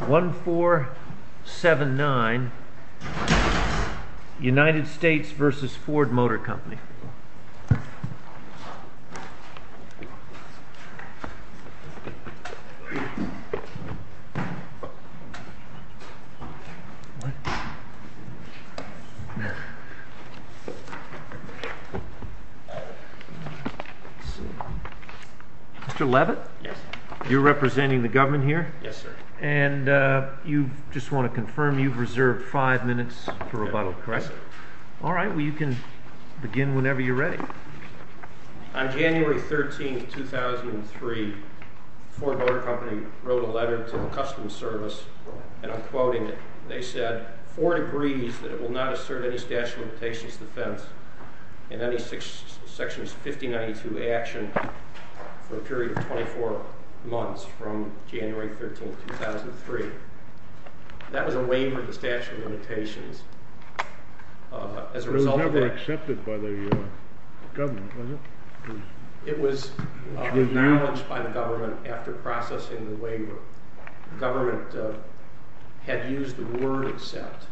1479 United States v. Ford Motor Company Mr. Leavitt, you're representing the government here? Yes, sir. And you just want to confirm you've reserved five minutes for rebuttal, correct? Yes, sir. All right. Well, you can begin whenever you're ready. On January 13, 2003, Ford Motor Company wrote a letter to the Customs Service, and I'm quoting it. They said, for it agrees that it will not assert any statute of limitations defense in any Section 1592 action for a period of 24 months from January 13, 2003. That was a waiver of the statute of limitations as a result of that. It was never accepted by the government, was it? It was acknowledged by the government after processing the waiver. The government had used the word accept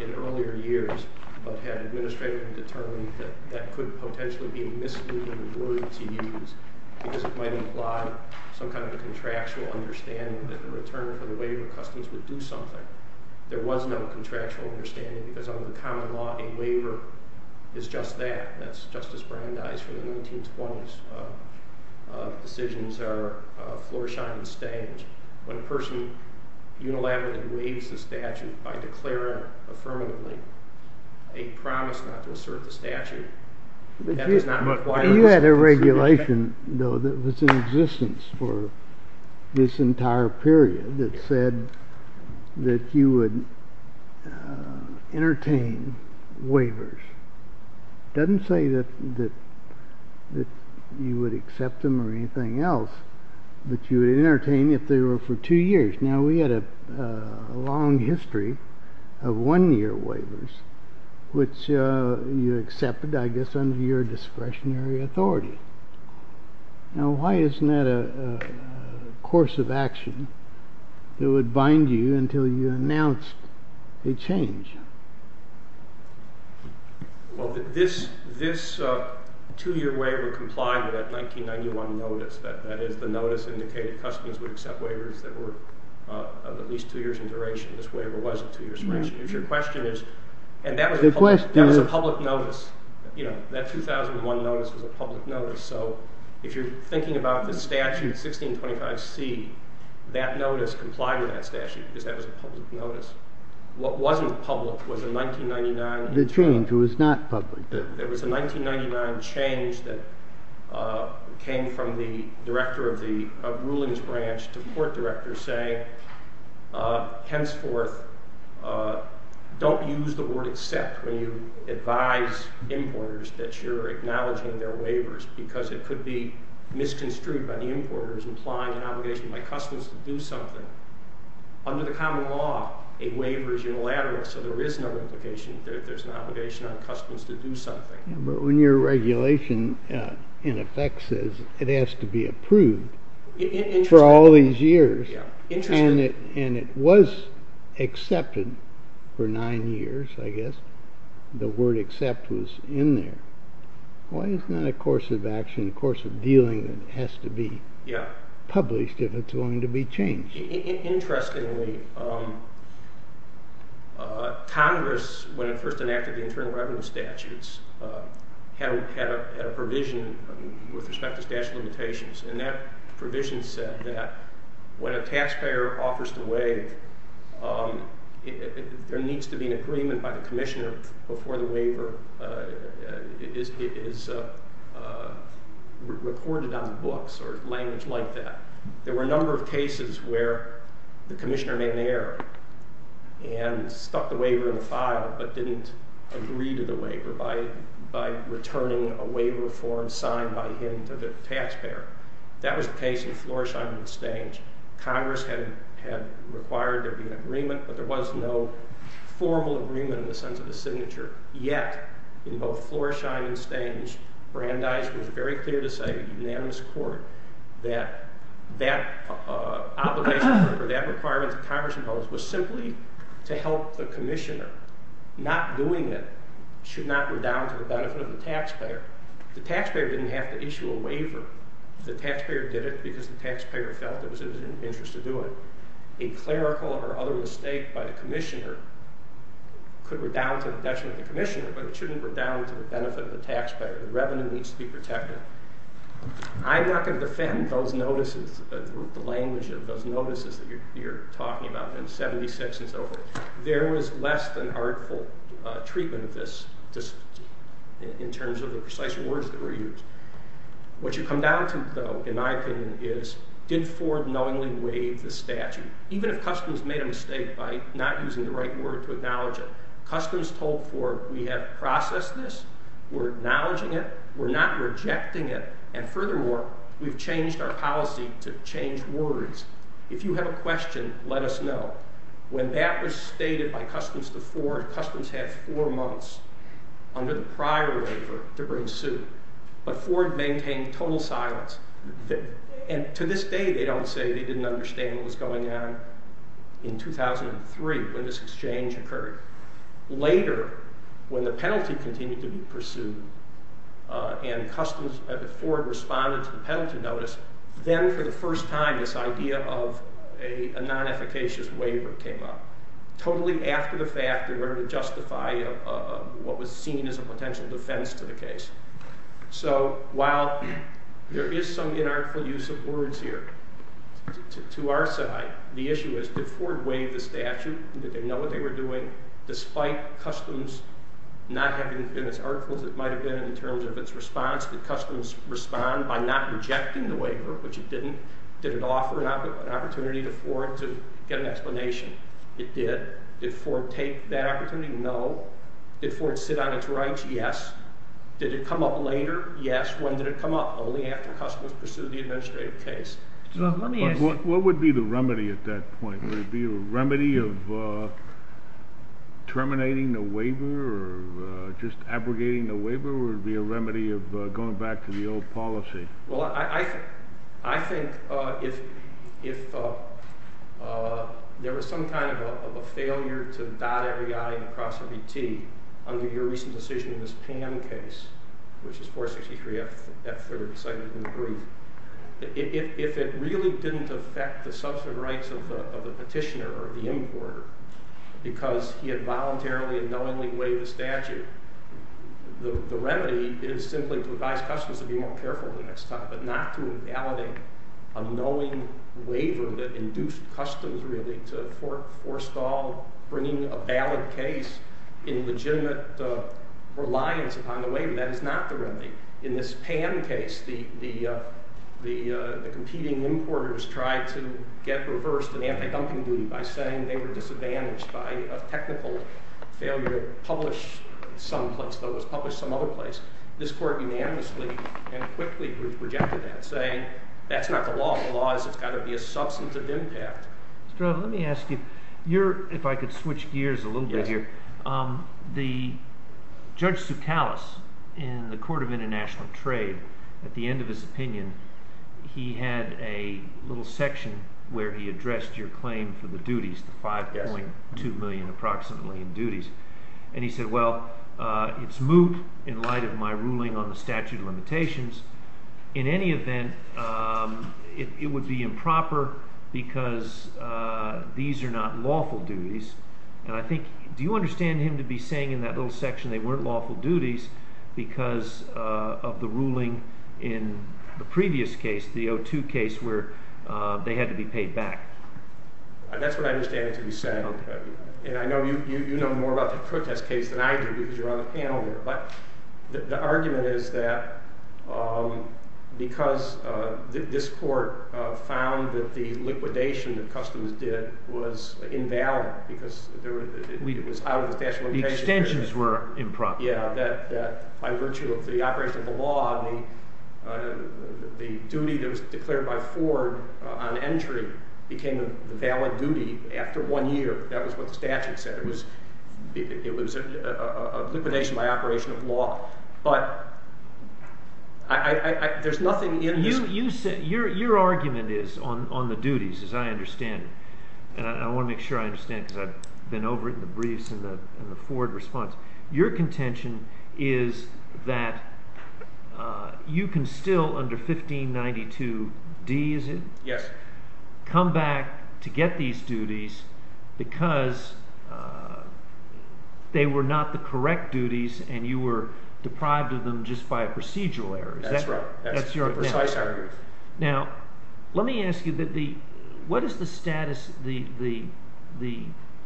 in earlier years, but had administratively determined that that could potentially be a misleading word to use because it might imply some kind of a contractual understanding that the return for the waiver of customs would do something. There was no contractual understanding because under the common law, a waiver is just that. That's Justice Brandeis from the 1920s. Decisions are floor, shine, and stage. When a person unilaterally waives the statute by declaring affirmatively a promise not to assert the statute, that does not apply to this person. You had a regulation, though, that was in existence for this entire period that said that you would entertain waivers. It doesn't say that you would accept them or anything else, but you would entertain if they were for two years. Now, we had a long history of one-year waivers, which you accepted, I guess, under your discretionary authority. Now, why isn't that a course of action that would bind you until you announced a change? Well, this two-year waiver complied with that 1991 notice. That is, the notice indicated customs would accept waivers that were of at least two years in duration. This waiver wasn't two years in duration. If your question is, and that was a public notice. That 2001 notice was a public notice. So if you're thinking about the statute 1625C, that notice complied with that statute because that was a public notice. What wasn't public was a 1999 change. The change was not public. It was a 1999 change that came from the director of the rulings branch to the court director saying, henceforth, don't use the word accept when you advise importers that you're acknowledging their waivers because it could be misconstrued by the importers implying an obligation by customs to do something. Under the common law, a waiver is unilateral. So there is no implication that there's an obligation on customs to do something. But when your regulation, in effect, says it has to be approved for all these years, and it was accepted for nine years, I guess, the word accept was in there. Why isn't that a course of action, a course of dealing that has to be published if it's going to be changed? Interestingly, Congress, when it first enacted the internal revenue statutes, had a provision with respect to statute of limitations, and that provision said that when a taxpayer offers to waive, there needs to be an agreement by the commissioner before the waiver is recorded on the books or language like that. There were a number of cases where the commissioner made an error and stuck the waiver in the file but didn't agree to the waiver by returning a waiver form signed by him to the taxpayer. That was the case in Floresheim and Stange. Congress had required there be an agreement, but there was no formal agreement in the sense of a signature. Yet, in both Floresheim and Stange, Brandeis was very clear to say, in a unanimous court, that that obligation or that requirement that Congress imposed was simply to help the commissioner. Not doing it should not redound to the benefit of the taxpayer. The taxpayer didn't have to issue a waiver. The taxpayer did it because the taxpayer felt it was in their interest to do it. A clerical or other mistake by the commissioner could redound to the detriment of the commissioner, but it shouldn't redound to the benefit of the taxpayer. The revenue needs to be protected. I'm not going to defend those notices, the language of those notices that you're talking about in 76 and so forth. There was less than artful treatment of this in terms of the precise words that were used. What you come down to, though, in my opinion, is did Ford knowingly waive the statute? Even if customs made a mistake by not using the right word to acknowledge it, customs told Ford we have processed this, we're acknowledging it, we're not rejecting it, and furthermore, we've changed our policy to change words. If you have a question, let us know. When that was stated by customs to Ford, customs had four months under the prior waiver to bring suit, but Ford maintained total silence. To this day, they don't say they didn't understand what was going on in 2003 when this exchange occurred. Later, when the penalty continued to be pursued and Ford responded to the penalty notice, then for the first time this idea of a non-efficacious waiver came up, totally after the fact in order to justify what was seen as a potential defense to the case. So while there is some inartful use of words here, to our side, the issue is did Ford waive the statute? Did they know what they were doing? Despite customs not having been as artful as it might have been in terms of its response, did customs respond by not rejecting the waiver, which it didn't? Did it offer an opportunity to Ford to get an explanation? It did. Did Ford take that opportunity? No. Did Ford sit on its rights? Yes. Did it come up later? Yes. When did it come up? Only after customs pursued the administrative case. What would be the remedy at that point? Would it be a remedy of terminating the waiver or just abrogating the waiver, or would it be a remedy of going back to the old policy? Well, I think if there was some kind of a failure to dot every I and cross every T under your recent decision in this PAM case, which is 463 F3rd, decided in the brief, if it really didn't affect the substantive rights of the petitioner or the importer because he had voluntarily and knowingly waived the statute, the remedy is simply to advise customs to be more careful the next time, but not to invalidate a knowing waiver that induced customs, really, to forestall bringing a valid case in legitimate reliance upon the waiver. That is not the remedy. In this PAM case, the competing importers tried to get reversed in anti-dumping duty by saying they were disadvantaged by a technical failure published someplace, though it was published some other place. This Court unanimously and quickly rejected that, saying that's not the law. The law is it's got to be a substantive impact. Let me ask you, if I could switch gears a little bit here. The Judge Soukalos in the Court of International Trade, at the end of his opinion, he had a little section where he addressed your claim for the duties, the 5.2 million approximately in duties, and he said, well, it's moot in light of my ruling on the statute of limitations. In any event, it would be improper because these are not lawful duties. And I think, do you understand him to be saying in that little section they weren't lawful duties because of the ruling in the previous case, the O2 case, where they had to be paid back? That's what I understand it to be saying. And I know you know more about the protest case than I do because you're on the panel here. But the argument is that because this court found that the liquidation that Customs did was invalid because it was out of the statute of limitations. The extensions were improper. Yeah, that by virtue of the operation of the law, the duty that was declared by Ford on entry became the valid duty after one year. That was what the statute said. It was a liquidation by operation of law. But there's nothing in this. Your argument is on the duties, as I understand it, and I want to make sure I understand because I've been over it in the briefs and the Ford response. Your contention is that you can still under 1592D, is it? Yes. Come back to get these duties because they were not the correct duties and you were deprived of them just by a procedural error. That's right. Now, let me ask you, what is the status? The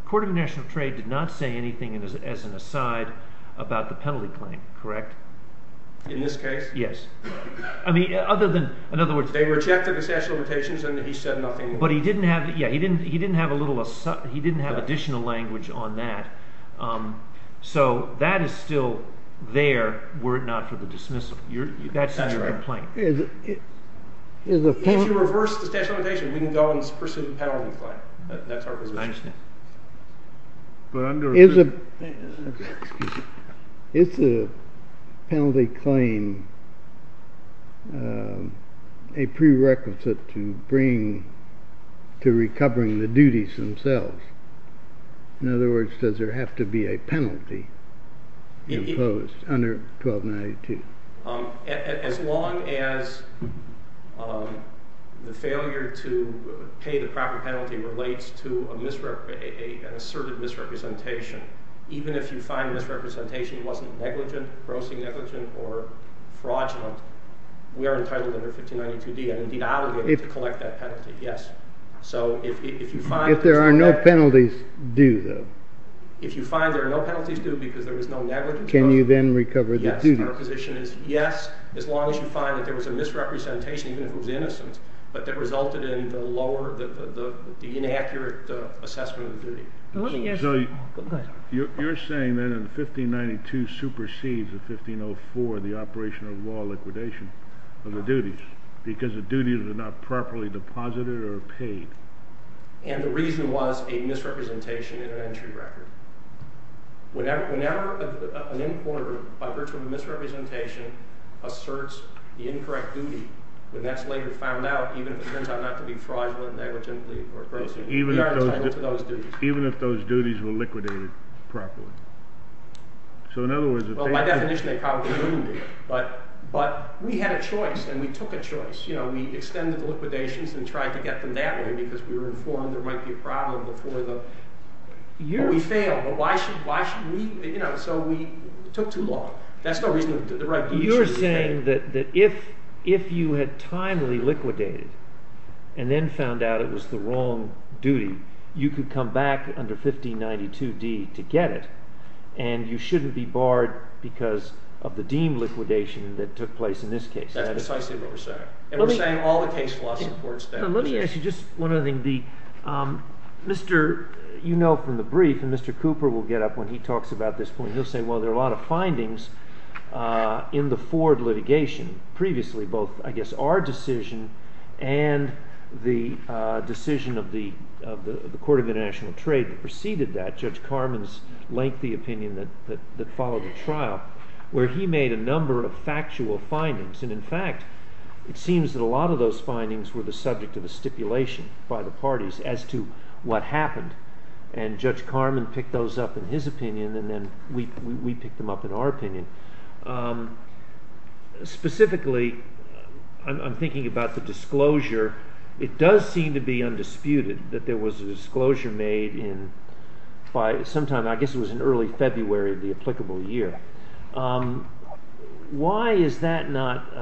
Court of International Trade did not say anything as an aside about the penalty claim, correct? In this case? Yes. They rejected the statute of limitations and he said nothing. But he didn't have additional language on that. So that is still there were it not for the dismissal. That's your complaint. If you reverse the statute of limitations, we can go and pursue the penalty claim. That's our position. I understand. It's a penalty claim, a prerequisite to bring to recovering the duties themselves. In other words, does there have to be a penalty imposed under 1292? As long as the failure to pay the proper penalty relates to an asserted misrepresentation, even if you find misrepresentation wasn't negligent, grossly negligent, or fraudulent, we are entitled under 1592D and, indeed, I will be able to collect that penalty. Yes. If there are no penalties due, though? If you find there are no penalties due because there is no negligence. Can you then recover the duties? Our position is yes, as long as you find that there was a misrepresentation, even if it was innocent, but that resulted in the lower, the inaccurate assessment of the duty. You're saying that in 1592 supersedes in 1504 the operation of law liquidation of the duties because the duties are not properly deposited or paid. And the reason was a misrepresentation in an entry record. Whenever an importer, by virtue of a misrepresentation, asserts the incorrect duty, when that's later found out, even if it turns out not to be fraudulent, negligently, or grossly negligent, we are entitled to those duties. Even if those duties were liquidated properly. So, in other words, if they didn't… Well, by definition, they probably wouldn't be. But we had a choice and we took a choice. We extended the liquidations and tried to get them that way because we were informed there might be a problem before the… We failed. Why should we… So we took too long. That's not reasonable. You're saying that if you had timely liquidated and then found out it was the wrong duty, you could come back under 1592d to get it, and you shouldn't be barred because of the deemed liquidation that took place in this case. That's precisely what we're saying. And we're saying all the case law supports that. Let me ask you just one other thing. You know from the brief, and Mr. Cooper will get up when he talks about this point, he'll say, well, there are a lot of findings in the Ford litigation, previously both, I guess, our decision and the decision of the Court of International Trade that preceded that, Judge Carman's lengthy opinion that followed the trial, where he made a number of factual findings. And, in fact, it seems that a lot of those findings were the subject of a stipulation by the parties as to what happened. And Judge Carman picked those up in his opinion, and then we picked them up in our opinion. Specifically, I'm thinking about the disclosure. It does seem to be undisputed that there was a disclosure made by sometime, I guess it was in early February of the applicable year. Why is that not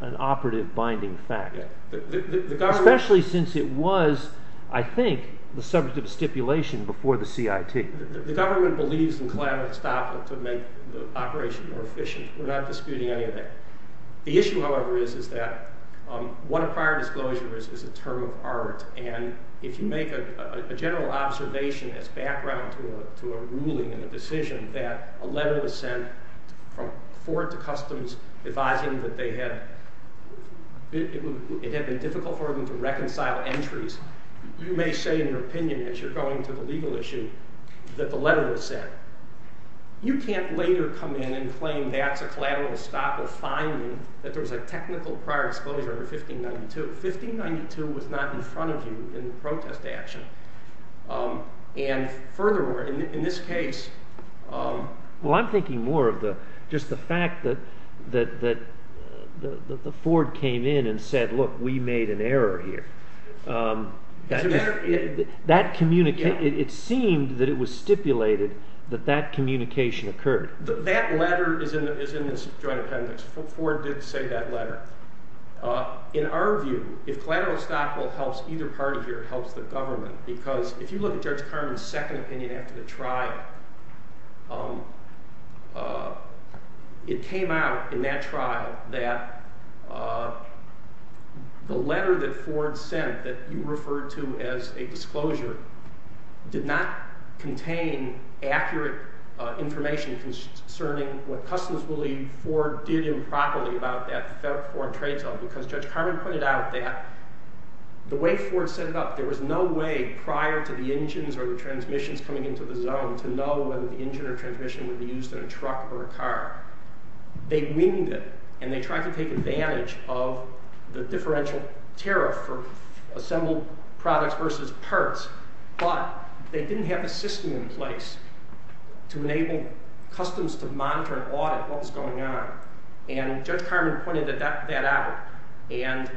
an operative binding fact? Especially since it was, I think, the subject of stipulation before the CIT. The government believes in collateral estoppel to make the operation more efficient. We're not disputing any of that. The issue, however, is that what a prior disclosure is is a term of art. And if you make a general observation as background to a ruling and a decision that a letter was sent from Ford to Customs advising that it had been difficult for them to reconcile entries, you may say in your opinion, as you're going to the legal issue, that the letter was sent. You can't later come in and claim that's a collateral estoppel finding that there was a technical prior disclosure in 1592. 1592 was not in front of you in the protest action. And furthermore, in this case- Well, I'm thinking more of just the fact that Ford came in and said, look, we made an error here. It seemed that it was stipulated that that communication occurred. That letter is in this joint appendix. Ford did say that letter. In our view, if collateral estoppel helps either party here, it helps the government. Because if you look at Judge Carman's second opinion after the trial, it came out in that trial that the letter that Ford sent that you referred to as a disclosure did not contain accurate information concerning what Customs believed Ford did improperly about that federal foreign trade zone. Because Judge Carman pointed out that the way Ford set it up, there was no way prior to the engines or the transmissions coming into the zone to know whether the engine or transmission would be used in a truck or a car. They winged it, and they tried to take advantage of the differential tariff for assembled products versus parts. But they didn't have the system in place to enable Customs to monitor and audit what was going on. And Judge Carman pointed that out. And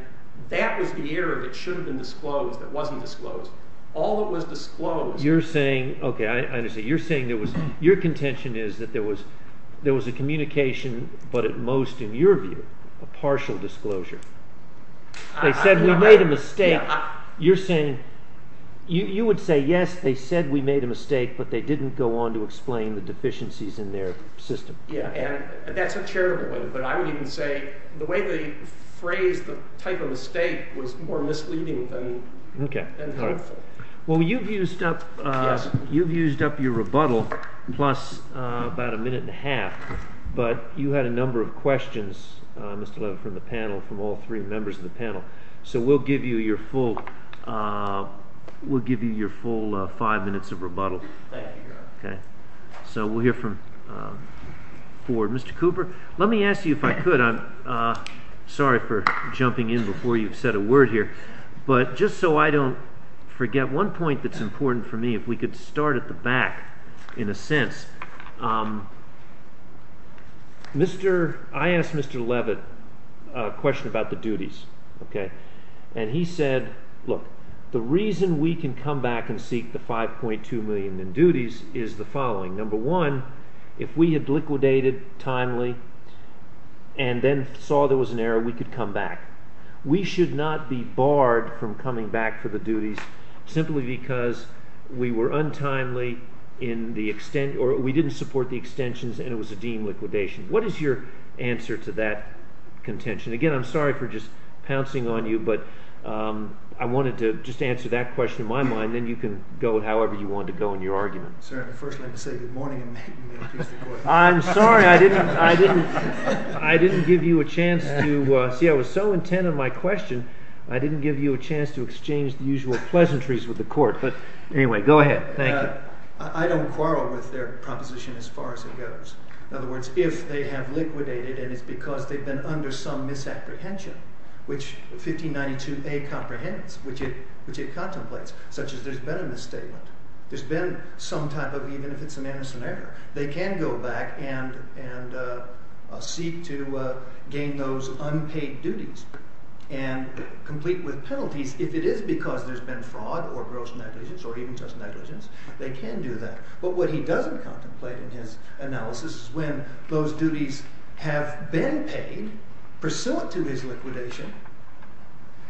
that was the error that should have been disclosed that wasn't disclosed. All that was disclosed... You're saying, okay, I understand. You're saying your contention is that there was a communication, but at most, in your view, a partial disclosure. They said we made a mistake. You're saying you would say, yes, they said we made a mistake, but they didn't go on to explain the deficiencies in their system. That's a charitable way, but I would even say the way they phrased the type of mistake was more misleading than helpful. Well, you've used up your rebuttal plus about a minute and a half, but you had a number of questions, Mr. Levin, from the panel, from all three members of the panel. So we'll give you your full five minutes of rebuttal. Thank you, Your Honor. So we'll hear from Ford. Mr. Cooper, let me ask you if I could. I'm sorry for jumping in before you've said a word here, but just so I don't forget, one point that's important for me, if we could start at the back, in a sense. I asked Mr. Levin a question about the duties, and he said, look, the reason we can come back and seek the $5.2 million in duties is the following. Number one, if we had liquidated timely and then saw there was an error, we could come back. We should not be barred from coming back for the duties simply because we were untimely in the extension or we didn't support the extensions and it was a deemed liquidation. What is your answer to that contention? Again, I'm sorry for just pouncing on you, but I wanted to just answer that question in my mind, and then you can go however you want to go in your argument. Sir, I'd first like to say good morning and thank you for introducing me. I'm sorry, I didn't give you a chance to, see, I was so intent on my question, I didn't give you a chance to exchange the usual pleasantries with the court. But anyway, go ahead. Thank you. I don't quarrel with their proposition as far as it goes. In other words, if they have liquidated and it's because they've been under some misapprehension, which 1592A comprehends, which it contemplates, such as there's been a misstatement, there's been some type of, even if it's a manuscript error, they can go back and seek to gain those unpaid duties and complete with penalties if it is because there's been fraud or gross negligence or even just negligence, they can do that. But what he doesn't contemplate in his analysis is when those duties have been paid pursuant to his liquidation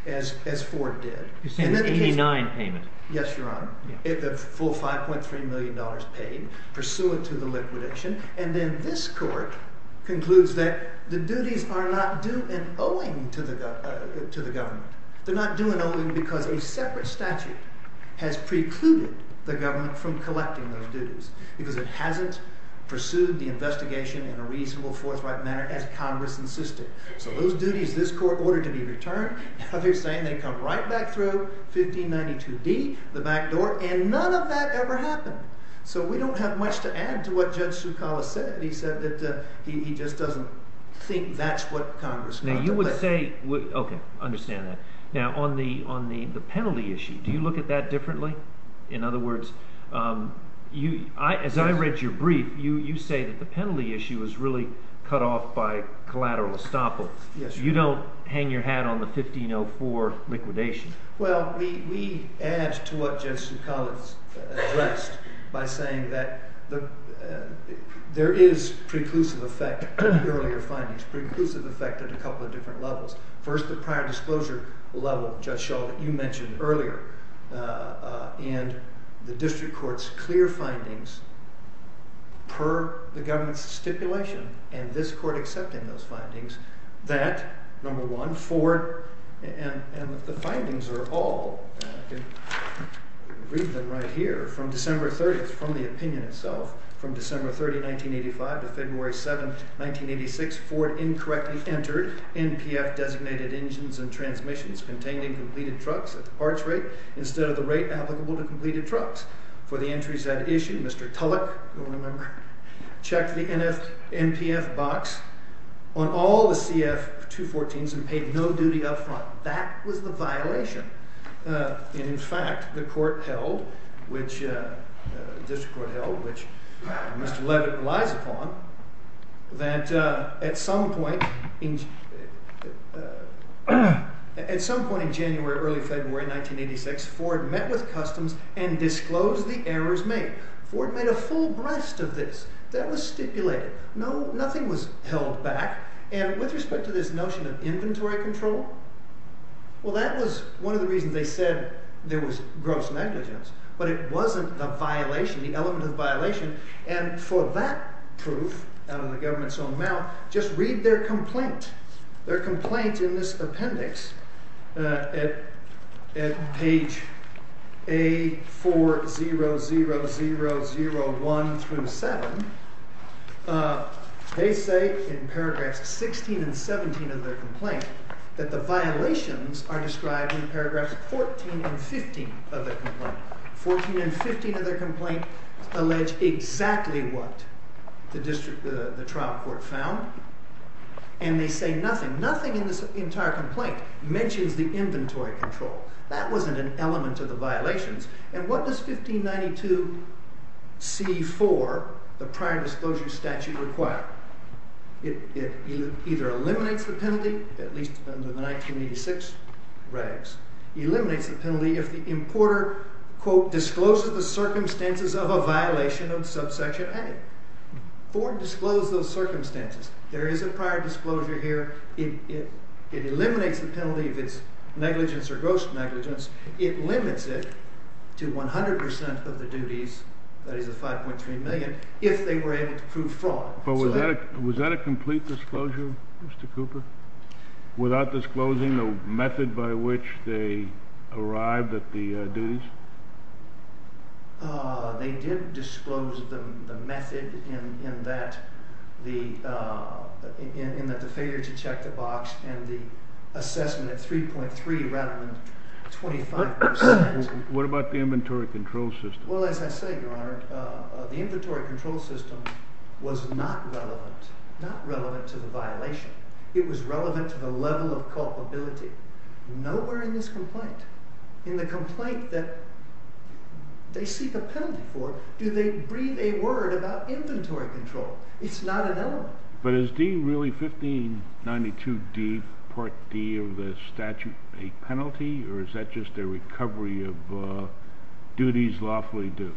as Ford did. You said 89 payment. Yes, Your Honor. The full $5.3 million paid pursuant to the liquidation. And then this court concludes that the duties are not due and owing to the government. They're not due and owing because a separate statute has precluded the government from collecting those duties because it hasn't pursued the investigation in a reasonable forthright manner as Congress insisted. So those duties this court ordered to be returned, now they're saying they come right back through 1592D, the back door, and none of that ever happened. So we don't have much to add to what Judge Zucala said. He said that he just doesn't think that's what Congress contemplates. Now you would say, okay, I understand that. Now on the penalty issue, do you look at that differently? In other words, as I read your brief, you say that the penalty issue is really cut off by collateral estoppel. You don't hang your hat on the 1504 liquidation. Well, we add to what Judge Zucala addressed by saying that there is preclusive effect to the earlier findings, preclusive effect at a couple of different levels. First, the prior disclosure level, Judge Shull, that you mentioned earlier, and the district court's clear findings per the government's stipulation, and this court accepting those findings, that, number one, Ford, and the findings are all, I can read them right here, from December 30th, from the opinion itself, from December 30, 1985, to February 7, 1986, Ford incorrectly entered NPF-designated engines and transmissions containing completed trucks at the parts rate instead of the rate applicable to completed trucks. For the entries that issue, Mr. Tulloch, you'll remember, checked the NPF box on all the CF-214s and paid no duty up front. That was the violation. And, in fact, the court held, the district court held, which Mr. Levitt relies upon, that at some point in January, early February 1986, Ford met with customs and disclosed the errors made. Ford made a full breast of this. That was stipulated. Nothing was held back. And with respect to this notion of inventory control, well, that was one of the reasons they said there was gross negligence. But it wasn't the violation, the element of violation, and for that proof, out of the government's own mouth, just read their complaint. Their complaint in this appendix, at page A400001-7, they say in paragraphs 16 and 17 of their complaint that the violations are described in paragraphs 14 and 15 of their complaint. 14 and 15 of their complaint allege exactly what the trial court found, and they say nothing. Now, nothing in this entire complaint mentions the inventory control. That wasn't an element of the violations. And what does 1592c-4, the prior disclosure statute, require? It either eliminates the penalty, at least under the 1986 regs, eliminates the penalty if the importer, quote, discloses the circumstances of a violation of subsection A. Ford disclosed those circumstances. There is a prior disclosure here. It eliminates the penalty if it's negligence or gross negligence. It limits it to 100% of the duties, that is the 5.3 million, if they were able to prove fraud. But was that a complete disclosure, Mr. Cooper, without disclosing the method by which they arrived at the duties? They did disclose the method in that. In the failure to check the box and the assessment at 3.3 rather than 25%. What about the inventory control system? Well, as I say, Your Honor, the inventory control system was not relevant, not relevant to the violation. It was relevant to the level of culpability. Nowhere in this complaint, in the complaint that they seek a penalty for, do they breathe a word about inventory control. It's not an element. But is D, really, 1592D, Part D of the statute, a penalty, or is that just a recovery of duties lawfully due?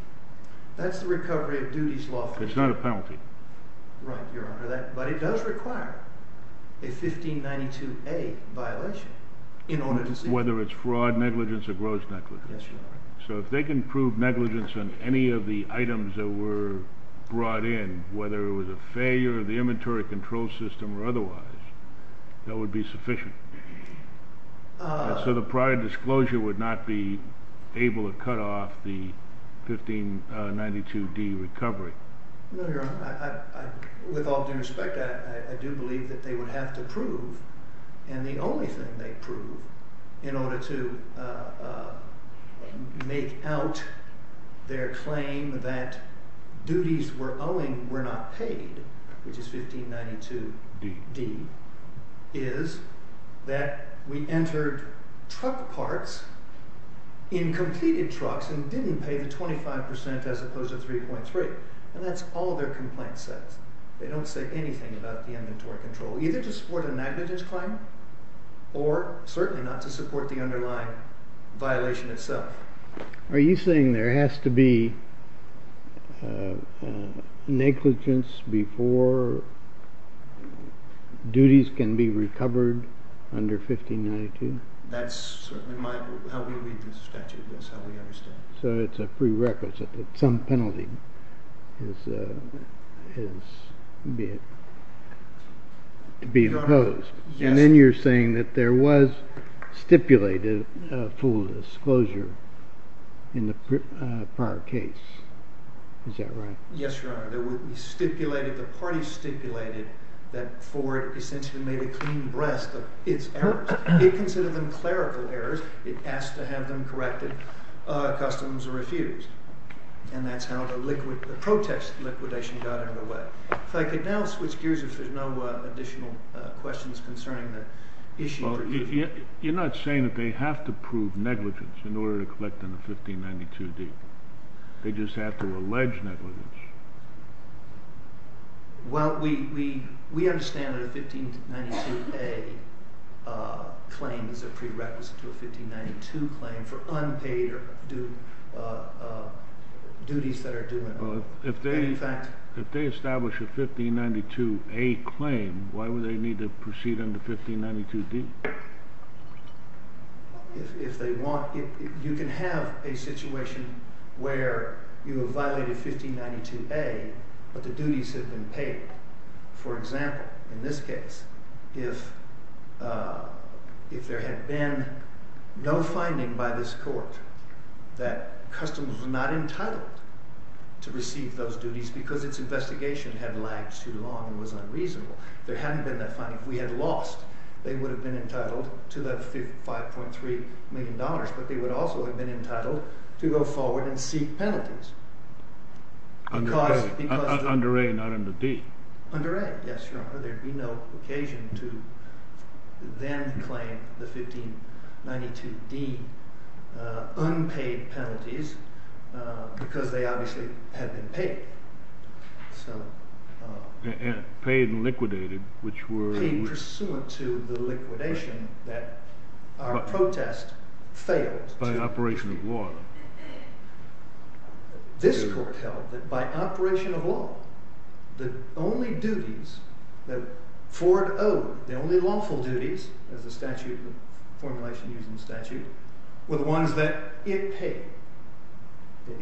That's the recovery of duties lawfully due. It's not a penalty. Right, Your Honor. But it does require a 1592A violation in order to see it. Whether it's fraud, negligence, or gross negligence. So if they can prove negligence on any of the items that were brought in, whether it was a failure of the inventory control system or otherwise, that would be sufficient. So the prior disclosure would not be able to cut off the 1592D recovery. No, Your Honor. With all due respect, I do believe that they would have to prove, and the only thing they'd prove, in order to make out their claim that duties we're owing were not paid, which is 1592D, is that we entered truck parts in completed trucks and didn't pay the 25% as opposed to 3.3%. And that's all their complaint says. They don't say anything about the inventory control, either to support a magnitude claim or certainly not to support the underlying violation itself. Are you saying there has to be negligence before duties can be recovered under 1592? That's certainly how we read the statute. That's how we understand it. So it's a prerequisite that some penalty is to be imposed. Yes. Then you're saying that there was stipulated full disclosure in the prior case. Is that right? Yes, Your Honor. The party stipulated that Ford essentially made a clean breast of its errors. It considered them clerical errors. It asked to have them corrected. Customs refused. And that's how the protest liquidation got underway. If I could now switch gears, if there's no additional questions concerning the issue for you. You're not saying that they have to prove negligence in order to collect on a 1592D. They just have to allege negligence. Well, we understand that a 1592A claim is a prerequisite to a 1592 claim for unpaid duties that are due in effect. If they establish a 1592A claim, why would they need to proceed under 1592D? You can have a situation where you have violated 1592A, but the duties have been paid. For example, in this case, if there had been no finding by this court that customers were not because its investigation had lagged too long and was unreasonable. If there hadn't been that finding, if we had lost, they would have been entitled to the $5.3 million. But they would also have been entitled to go forward and seek penalties. Under A. Under A, not under D. Under A, yes, Your Honor. There would be no occasion to then claim the 1592D unpaid penalties because they obviously had been paid. And paid and liquidated, which were? Paid pursuant to the liquidation that our protest failed. By operation of law. This court held that by operation of law, the only duties that Ford owed, the only lawful duties, as the statute, the formulation used in the statute, were the ones that it paid.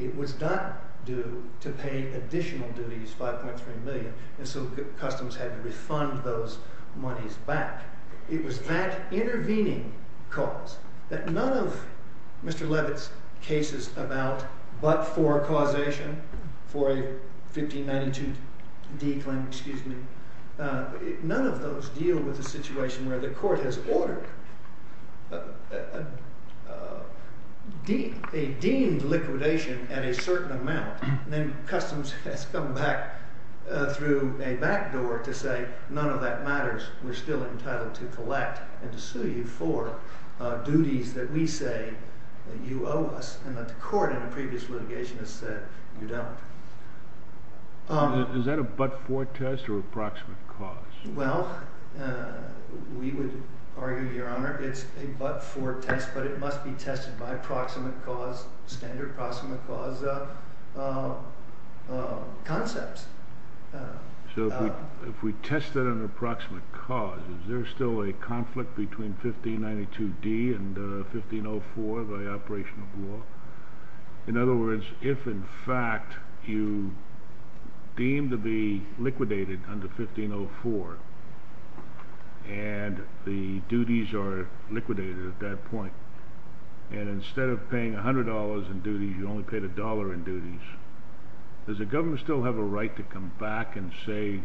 It was not due to pay additional duties, $5.3 million, and so customers had to refund those monies back. It was that intervening cause that none of Mr. Levitt's cases about but-for causation for a 1592D claim, excuse me, none of those deal with the situation where the court has ordered a deemed liquidation at a certain amount. And then customs has come back through a back door to say, none of that matters. We're still entitled to collect and to sue you for duties that we say that you owe us and that the court in a previous litigation has said you don't. Is that a but-for test or approximate cause? Well, we would argue, Your Honor, it's a but-for test, but it must be tested by approximate cause, standard approximate cause concepts. So if we test it under approximate cause, is there still a conflict between 1592D and 1504 by operation of law? In other words, if in fact you deem to be liquidated under 1504 and the duties are liquidated at that point, and instead of paying $100 in duties, you only paid $1 in duties, does the government still have a right to come back and say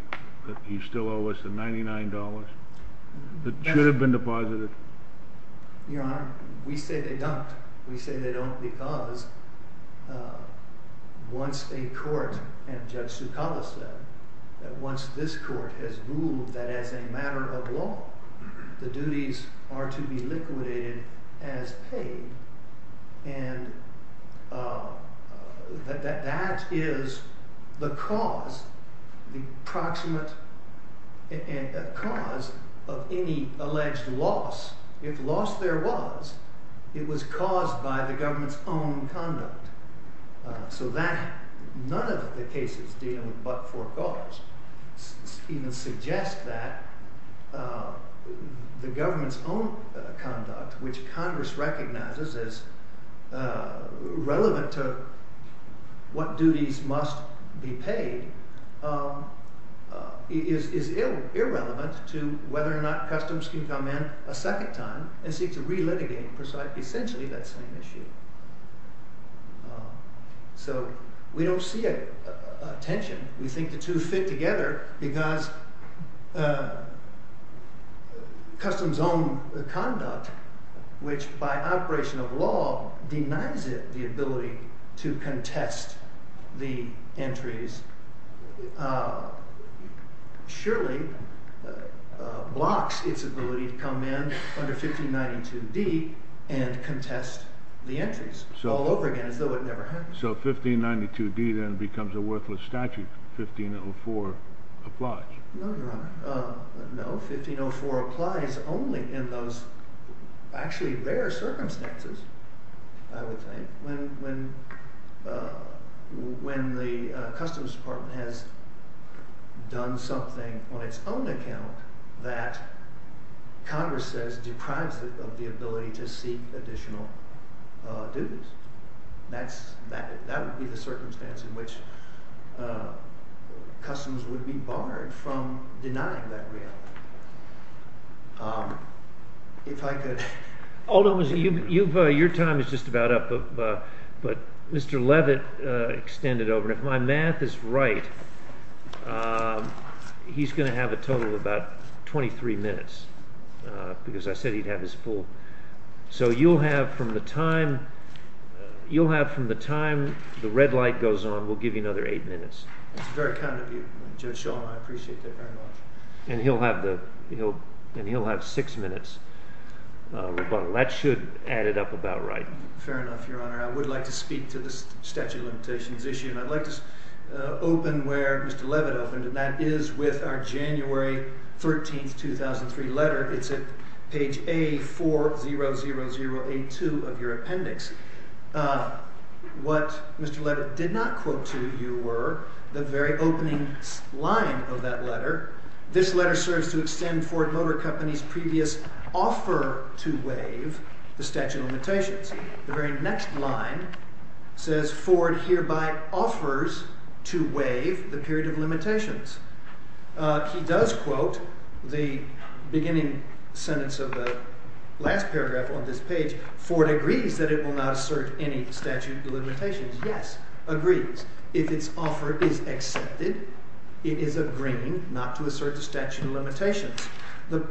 that you still owe us the $99 that should have been deposited? Your Honor, we say they don't. We say they don't because once a court, and Judge Sukala said, that once this court has ruled that as a matter of law, the duties are to be liquidated as paid, and that that is the cause, the approximate cause of any alleged loss. If loss there was, it was caused by the government's own conduct. So none of the cases dealing with but-for cause even suggest that the government's own conduct, which Congress recognizes as relevant to what duties must be paid, is irrelevant to whether or not customs can come in a second time and seek to re-litigate essentially that same issue. So we don't see a tension. We think the two fit together because customs' own conduct, which by operation of law denies it the ability to contest the entries, surely blocks its ability to come in under 1592D and contest the entries all over again as though it never happened. So 1592D then becomes a worthless statute. 1504 applies. No, Your Honor. No, 1504 applies only in those actually rare circumstances, I would think, when the Customs Department has done something on its own account that Congress says deprives it of the ability to seek additional duties. That would be the circumstance in which customs would be barred from denying that reality. If I could. Alderman, your time is just about up. But Mr. Levitt extended over. And if my math is right, he's going to have a total of about 23 minutes because I said he'd have his full. So you'll have from the time the red light goes on, we'll give you another eight minutes. That's very kind of you, Judge Shulman. I appreciate that very much. And he'll have six minutes. That should add it up about right. Fair enough, Your Honor. I would like to speak to the statute of limitations issue. And I'd like to open where Mr. Levitt opened, and that is with our January 13, 2003 letter. It's at page A400082 of your appendix. What Mr. Levitt did not quote to you were the very opening line of that letter. This letter serves to extend Ford Motor Company's previous offer to waive the statute of limitations. The very next line says, Ford hereby offers to waive the period of limitations. He does quote the beginning sentence of the last paragraph on this page. Ford agrees that it will not assert any statute of limitations. Yes, agrees. If its offer is accepted, it is agreeing not to assert the statute of limitations. The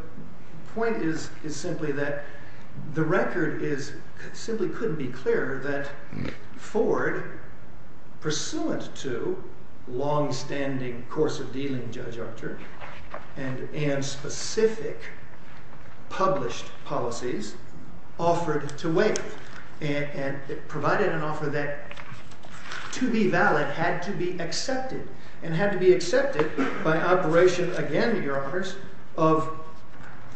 point is simply that the record simply couldn't be clearer that Ford, pursuant to longstanding course of dealing, Judge Archer, and specific published policies, offered to waive and provided an offer that, to be valid, had to be accepted. And had to be accepted by operation, again, your honors, of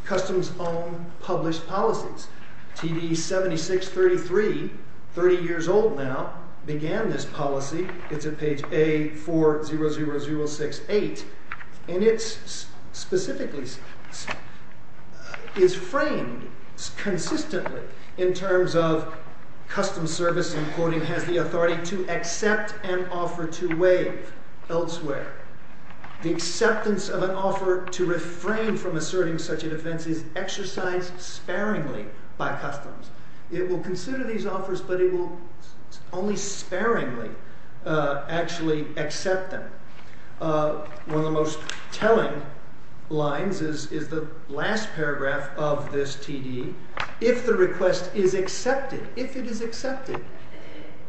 customs-owned published policies. TD7633, 30 years old now, began this policy. It's at page A400068. And it specifically is framed consistently in terms of custom service, and quoting, has the authority to accept an offer to waive elsewhere. The acceptance of an offer to refrain from asserting such a defense is exercised sparingly by customs. It will consider these offers, but it will only sparingly actually accept them. One of the most telling lines is the last paragraph of this TD. If the request is accepted, if it is accepted,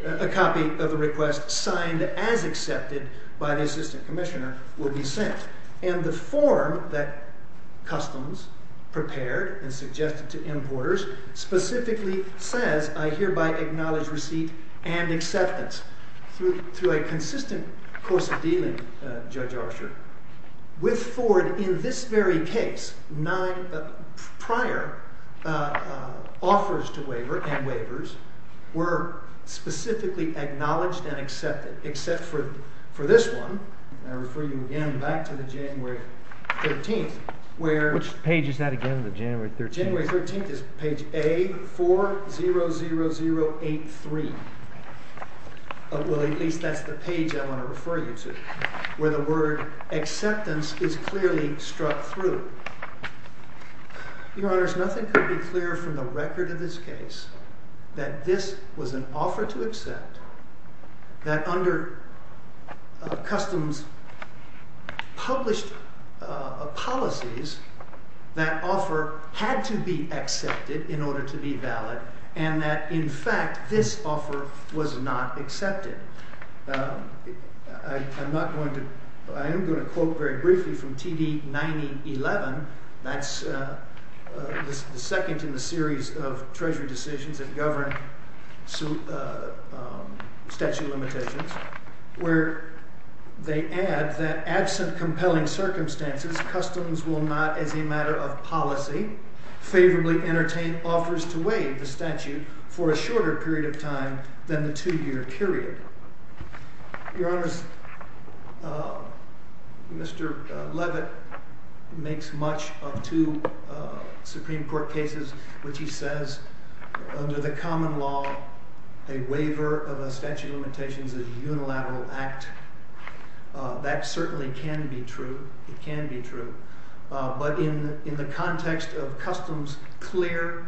a copy of the request signed as accepted by the assistant commissioner will be sent. And the form that customs prepared and suggested to importers specifically says, I hereby acknowledge receipt and acceptance. Through a consistent course of dealing, Judge Archer, with Ford, in this very case, nine prior offers to waiver and waivers were specifically acknowledged and accepted, except for this one. And I refer you again back to the January 13th, where Which page is that again, the January 13th? January 13th is page A400083. Well, at least that's the page I want to refer you to, where the word acceptance is clearly struck through. Your Honors, nothing could be clearer from the record of this case that this was an offer to accept, that under customs published policies, that offer had to be accepted in order to be valid, and that, in fact, this offer was not accepted. I am going to quote very briefly from TD 9011. That's the second in the series of treasury decisions that govern statute limitations, where they add that absent compelling circumstances, customs will not, as a matter of policy, favorably entertain offers than the two-year period. Your Honors, Mr. Levitt makes much of two Supreme Court cases which he says, under the common law, a waiver of a statute of limitations is a unilateral act. That certainly can be true. It can be true. But in the context of customs clear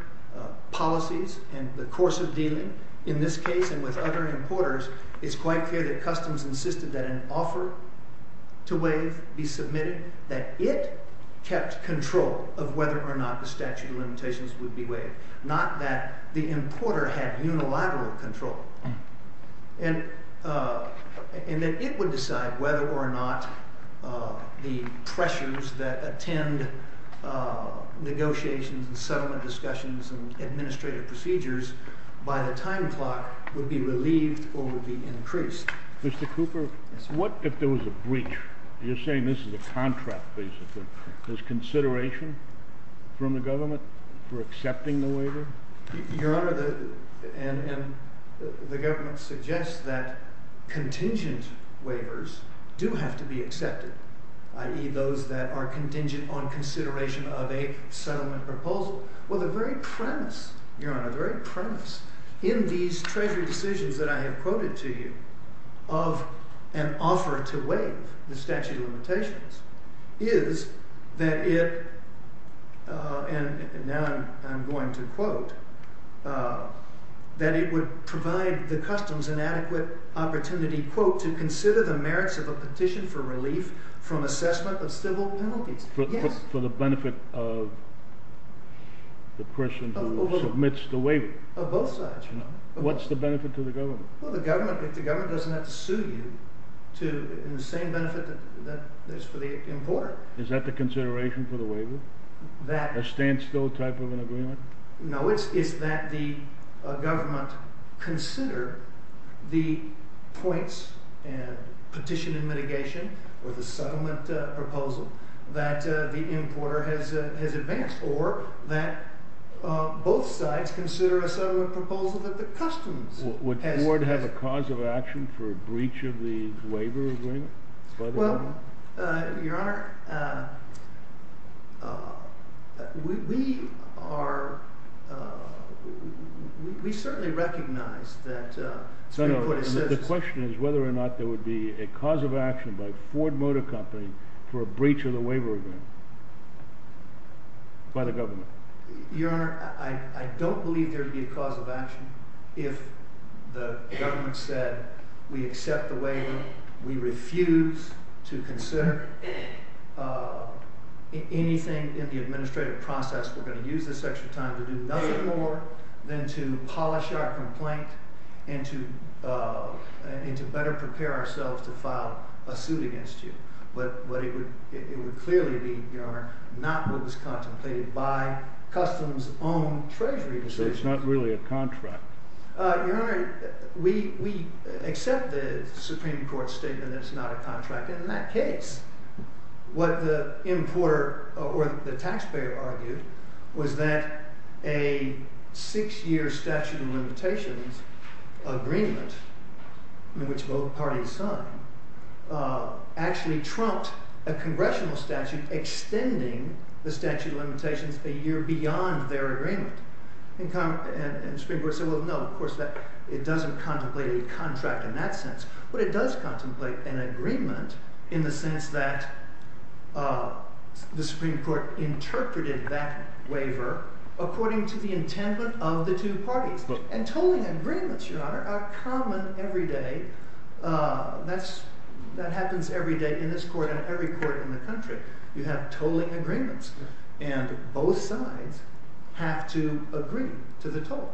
policies and the course of dealing in this case and with other importers, it's quite clear that customs insisted that an offer to waive be submitted, that it kept control of whether or not the statute of limitations would be waived, not that the importer had unilateral control, and that it would decide whether or not the pressures that attend negotiations and settlement discussions and administrative procedures by the time clock would be relieved or would be increased. Mr. Cooper, what if there was a breach? You're saying this is a contract, basically. There's consideration from the government for accepting the waiver? Your Honor, the government suggests that contingent waivers do have to be accepted, i.e. those that are contingent on consideration of a settlement proposal. Well, the very premise, Your Honor, the very premise in these treasury decisions that I have quoted to you of an offer to waive the statute of limitations is that it, and now I'm going to quote, that it would provide the customs an adequate opportunity, quote, to consider the merits of a petition for relief from assessment of civil penalties. For the benefit of the person who submits the waiver? Of both sides, Your Honor. What's the benefit to the government? Well, the government doesn't have to sue you in the same benefit that is for the importer. Is that the consideration for the waiver? That... A standstill type of an agreement? No, it's that the government consider the points and petition and mitigation or the settlement proposal that the importer has advanced or that both sides consider a settlement proposal that the customs... Would the board have a cause of action for a breach of the waiver agreement by the government? Well, Your Honor, we are... We certainly recognize that... No, no, the question is whether or not there would be a cause of action by Ford Motor Company for a breach of the waiver agreement by the government. Your Honor, I don't believe there would be a cause of action if the government said, we accept the waiver, we refuse to consider anything in the administrative process, we're going to use this extra time to do nothing more than to polish our complaint and to better prepare ourselves to file a suit against you. But it would clearly be, Your Honor, not what was contemplated by customs-owned treasury decisions. So it's not really a contract? Your Honor, we accept the Supreme Court's statement that it's not a contract. In that case, what the importer or the taxpayer argued was that a six-year statute of limitations agreement, which both parties signed, actually trumped a congressional statute extending the statute of limitations a year beyond their agreement. And the Supreme Court said, well, no, of course, it doesn't contemplate a contract in that sense. But it does contemplate an agreement in the sense that the Supreme Court interpreted that waiver according to the intent of the two parties. And tolling agreements, Your Honor, are common every day. That happens every day in this court and every court in the country. You have tolling agreements. And both sides have to agree to the tolling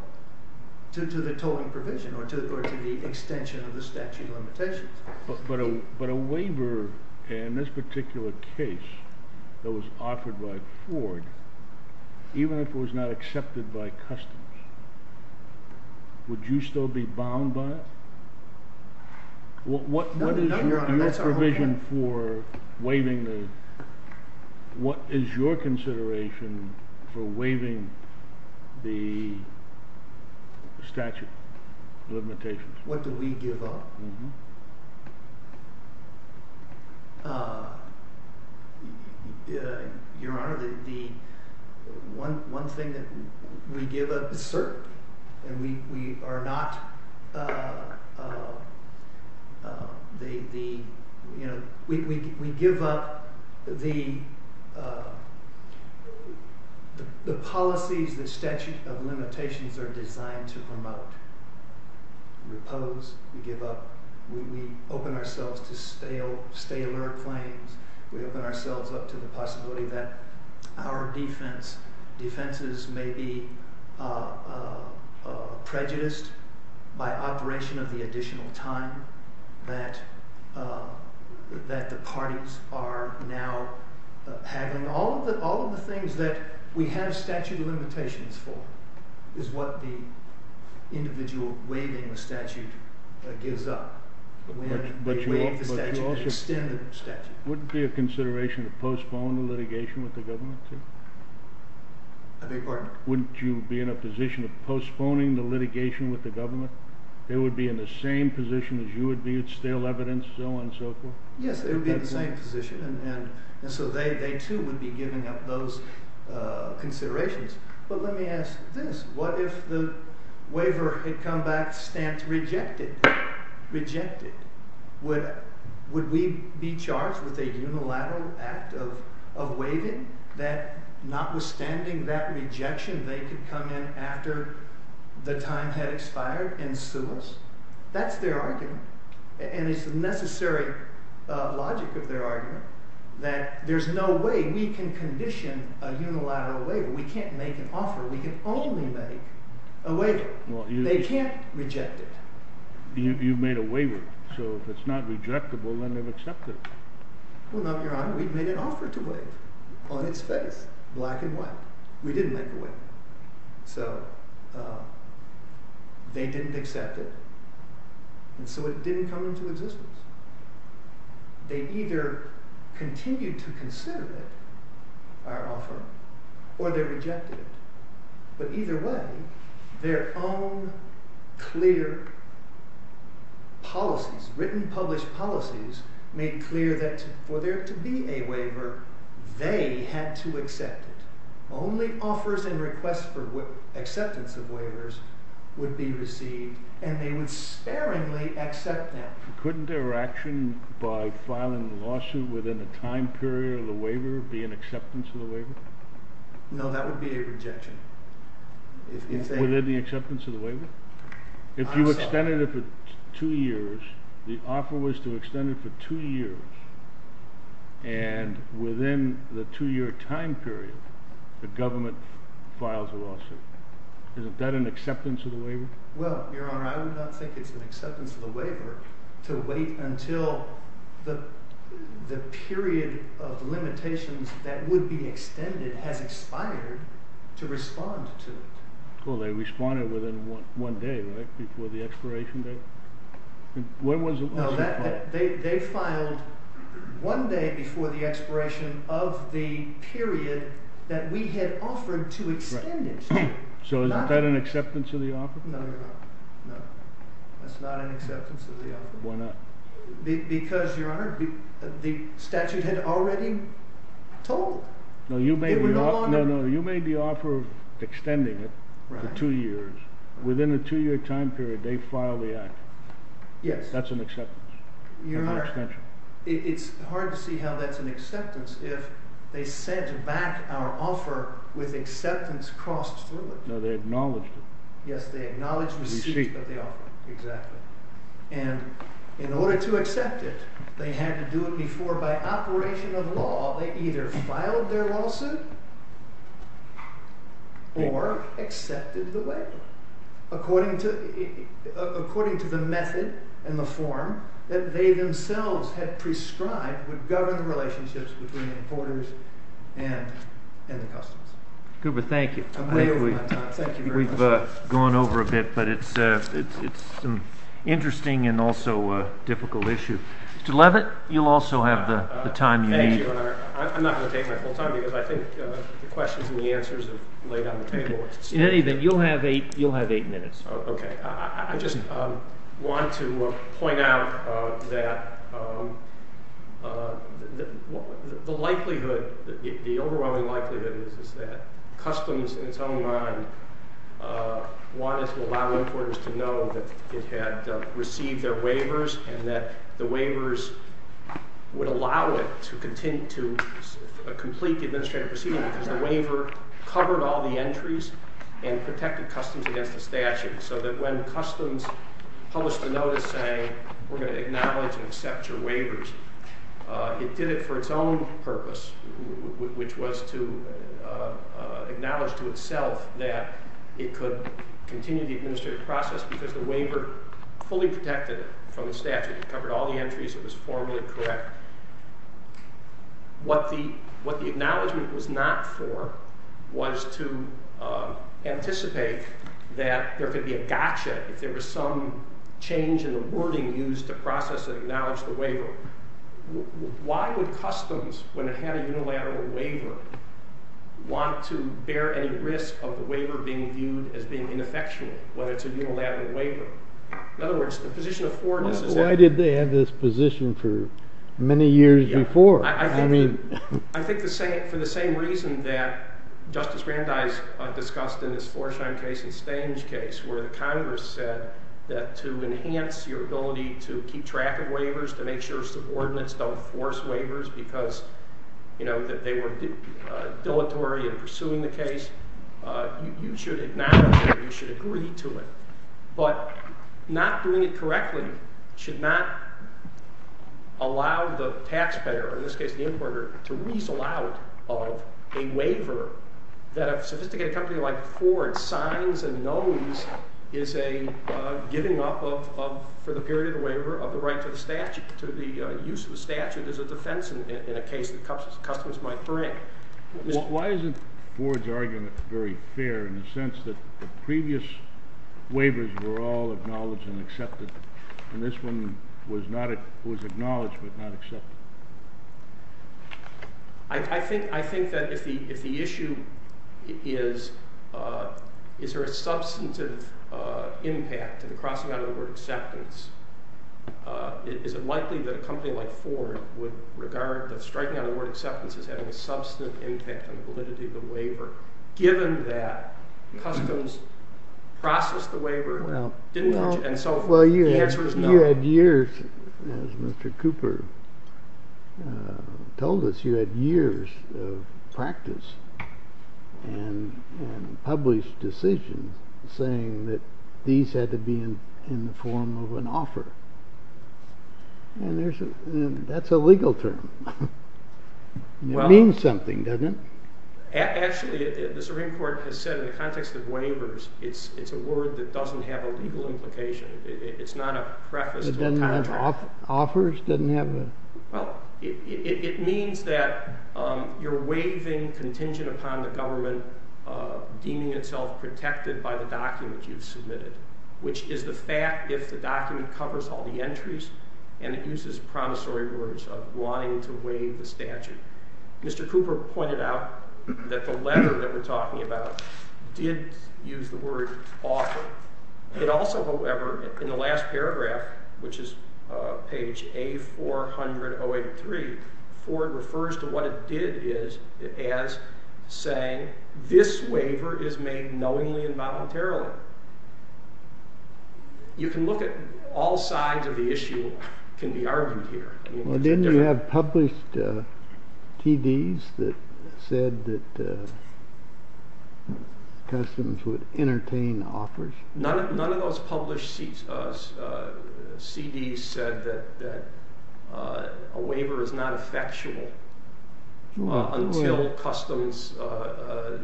provision or to the extension of the statute of limitations. But a waiver in this particular case that was offered by Ford, even if it was not accepted by customs, would you still be bound by it? What is your provision for waiving the... What is your consideration for waiving the statute of limitations? What do we give up? Your Honor, the one thing that we give up is certainty. And we are not... We give up the policies that statute of limitations are designed to promote. We oppose. We give up. We open ourselves to staler claims. We open ourselves up to the possibility that our defense, defenses may be prejudiced by operation of the additional time that the parties are now having. All of the things that we have statute of limitations for is what the individual waiving the statute gives up. But you also... Wouldn't it be a consideration to postpone the litigation with the government? I beg your pardon? Wouldn't you be in a position of postponing the litigation with the government? They would be in the same position as you would be, with stale evidence, so on and so forth? Yes, they would be in the same position. And so they too would be giving up those considerations. But let me ask this. What if the waiver had come back stamped rejected? Would we be charged with a unilateral act of waiving that notwithstanding that rejection, they could come in after the time had expired and sue us? That's their argument. And it's the necessary logic of their argument that there's no way we can condition a unilateral waiver. We can't make an offer. We can only make a waiver. They can't reject it. You've made a waiver. So if it's not rejectable, then they've accepted it. Well, no, Your Honor. We've made an offer to waive on its face, black and white. We didn't make a waiver. So they didn't accept it. And so it didn't come into existence. They either continued to consider it, our offer, or they rejected it. But either way, their own clear policies, written published policies, made clear that for there to be a waiver, they had to accept it. Only offers and requests for acceptance of waivers would be received. And they would sparingly accept them. Couldn't their action by filing the lawsuit within the time period of the waiver be an acceptance of the waiver? No, that would be a rejection. Within the acceptance of the waiver? If you extended it for two years, the offer was to extend it for two years. And within the two-year time period, the government files a lawsuit. Isn't that an acceptance of the waiver? Well, Your Honor, I would not think it's an acceptance of the waiver to wait until the period of limitations that would be extended has expired to respond to it. Well, they responded within one day, right? Before the expiration date? No, they filed one day before the expiration of the period that we had offered to extend it. So is that an acceptance of the offer? No, Your Honor, no. That's not an acceptance of the offer. Why not? Because, Your Honor, the statute had already told. No, you made the offer of extending it for two years. Within a two-year time period, they filed the act. Yes. That's an acceptance of the extension. It's hard to see how that's an acceptance if they sent back our offer with acceptance crossed through it. No, they acknowledged it. Yes, they acknowledged receipt of the offer. Receipt. Exactly. And in order to accept it, they had to do it before. By operation of law, they either filed their lawsuit or accepted the waiver according to the method and the form that they themselves had prescribed and would govern the relationships between the importers and the customers. Goober, thank you. We've gone over a bit, but it's an interesting and also a difficult issue. Mr. Levitt, you'll also have the time you need. Thank you, Your Honor. I'm not going to take my full time because I think the questions and the answers are laid on the table. In any event, you'll have eight minutes. Okay. I just want to point out that the likelihood, the overwhelming likelihood is that Customs in its own right wanted to allow importers to know that it had received their waivers and that the waivers would allow it to continue to complete the administrative proceeding because the waiver covered all the entries and protected Customs against the statute so that when Customs published a notice saying, we're going to acknowledge and accept your waivers, it did it for its own purpose, which was to acknowledge to itself that it could continue the administrative process because the waiver fully protected it from the statute. It covered all the entries. It was formally correct. What the acknowledgment was not for was to anticipate that there could be a gotcha if there was some change in the wording used to process and acknowledge the waiver. Why would Customs, when it had a unilateral waiver, want to bear any risk of the waiver being viewed as being ineffectual when it's a unilateral waiver? In other words, the position of Fordness is that— Why did they have this position for many years before? I think for the same reason that Justice Brandeis discussed in this Floresheim case and Stange case where the Congress said that to enhance your ability to keep track of waivers, to make sure subordinates don't force waivers because they were dilatory in pursuing the case, you should acknowledge it, you should agree to it. But not doing it correctly should not allow the taxpayer, in this case the importer, to weasel out of a waiver that a sophisticated company like Ford signs and knows is a giving up of, for the period of the waiver, of the right to the use of the statute as a defense in a case that Customs might bring. Why isn't Ford's argument very fair in the sense that the previous waivers were all acknowledged and accepted, and this one was acknowledged but not accepted? I think that if the issue is, is there a substantive impact to the crossing out of the word acceptance, is it likely that a company like Ford would regard the striking out of the word acceptance as having a substantive impact on the validity of the waiver, given that Customs processed the waiver and so the answer is no. You had years, as Mr. Cooper told us, you had years of practice and published decisions saying that these had to be in the form of an offer. And that's a legal term. It means something, doesn't it? Actually, the Supreme Court has said in the context of waivers, it's a word that doesn't have a legal implication. It's not a preface to a contract. It doesn't have offers? Well, it means that you're waiving contingent upon the government deeming itself protected by the document you've submitted, which is the fact if the document covers all the entries and it uses promissory words of wanting to waive the statute. Mr. Cooper pointed out that the letter that we're talking about did use the word offer. It also, however, in the last paragraph, which is page A400-083, Ford refers to what it did as saying, this waiver is made knowingly and voluntarily. You can look at all sides of the issue can be argued here. Well, didn't you have published TDs that said that Customs would entertain offers? None of those published CDs said that a waiver is not effectual until Customs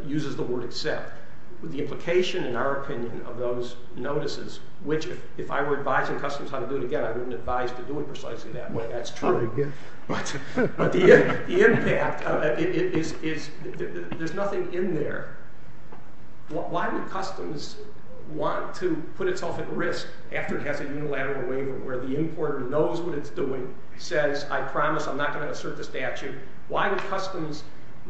uses the word accept. The implication, in our opinion, of those notices, which if I were advising Customs how to do it again, I wouldn't advise to do it precisely that way. That's true. But the impact is there's nothing in there. Why would Customs want to put itself at risk after it has a unilateral waiver where the importer knows what it's doing, says, I promise I'm not going to assert the statute? Why would Customs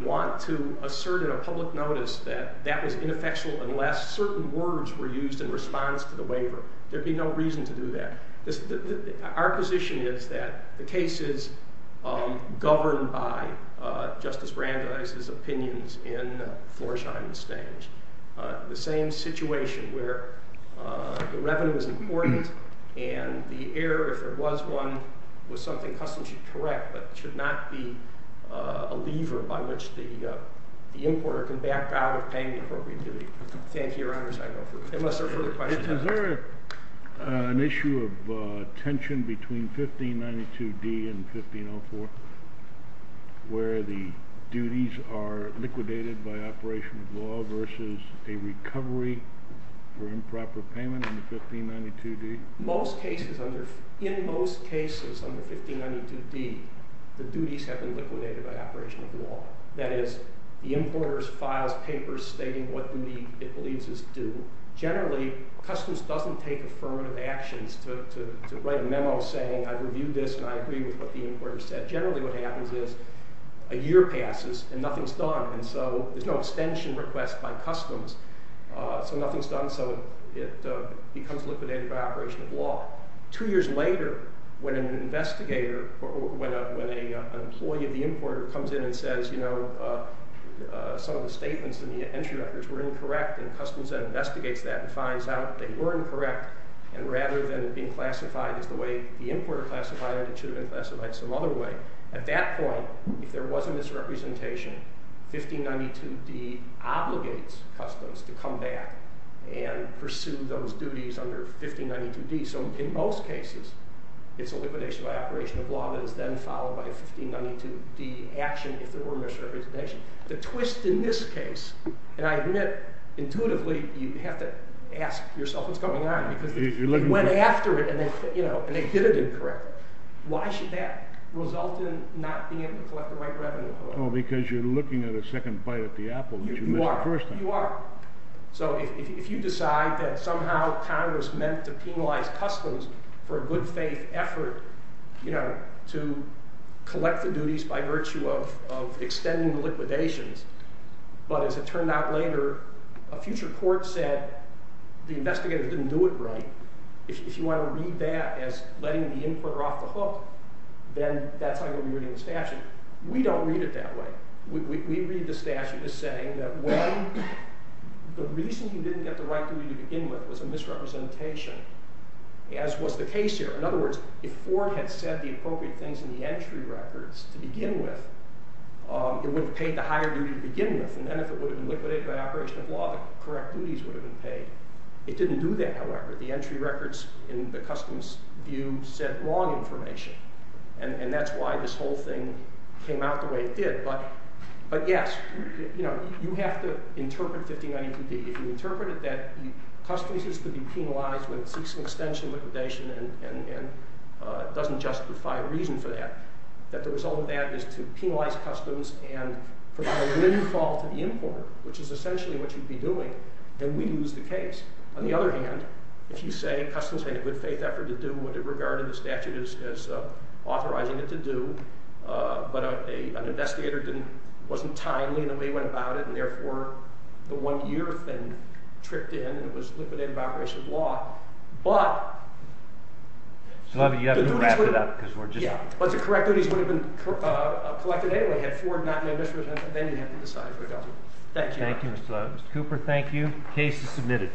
want to assert in a public notice that that was ineffectual unless certain words were used in response to the waiver? There'd be no reason to do that. Our position is that the case is governed by Justice Brandeis's opinions in Florsheim and Stange. The same situation where the revenue is important and the error, if there was one, was something Customs should correct but should not be a lever by which the importer can back out of paying the appropriate duty. Thank you, Your Honors. Unless there are further questions. Is there an issue of tension between 1592D and 1504 where the duties are liquidated by operation of law versus a recovery for improper payment in 1592D? In most cases under 1592D, the duties have been liquidated by operation of law. That is, the importer files papers stating what duty it believes is due. Generally, Customs doesn't take affirmative actions to write a memo saying, I've reviewed this and I agree with what the importer said. Generally what happens is a year passes and nothing's done. And so there's no extension request by Customs. So nothing's done. So it becomes liquidated by operation of law. Two years later when an investigator, when an employee of the importer comes in and says, you know, some of the statements in the entry records were incorrect and Customs then investigates that and finds out they were incorrect. And rather than it being classified as the way the importer classified it, it should have been classified some other way. At that point, if there was a misrepresentation, 1592D obligates Customs to come back and pursue those duties under 1592D. So in most cases, it's a liquidation by operation of law that is then followed by a 1592D action if there were a misrepresentation. The twist in this case, and I admit intuitively you have to ask yourself what's going on because you went after it and they did it incorrectly. Why should that result in not being able to collect the right revenue? Oh, because you're looking at a second bite at the apple because you missed the first thing. You are. You are. So if you decide that somehow Congress meant to penalize Customs for a good faith effort to collect the duties by virtue of extending the liquidations, but as it turned out later, a future court said the investigators didn't do it right. If you want to read that as letting the importer off the hook, then that's not going to be reading the statute. We don't read it that way. We read the statute as saying that when the reason you didn't get the right duty to begin with was a misrepresentation, as was the case here. In other words, if Ford had said the appropriate things in the entry records to begin with, it would have paid the higher duty to begin with. And then if it would have been liquidated by operation of law, the correct duties would have been paid. It didn't do that, however. The entry records in the Customs view said wrong information. And that's why this whole thing came out the way it did. But yes, you have to interpret 59E2B. If you interpret it that Customs is to be penalized when it seeks an extension of liquidation and doesn't justify a reason for that, that the result of that is to penalize Customs and provide a windfall to the importer, which is essentially what you'd be doing, then we'd lose the case. On the other hand, if you say Customs had a good faith effort to do what it regarded in the statute as authorizing it to do, but an investigator wasn't timely in the way he went about it, and therefore the one year thing tripped in and it was liquidated by operation of law, but the duties would have been paid. But the correct duties would have been collected anyway, had Ford not made a misrepresentation and decided to adopt it. Thank you. Thank you, Mr. Cooper. Thank you. Case is submitted.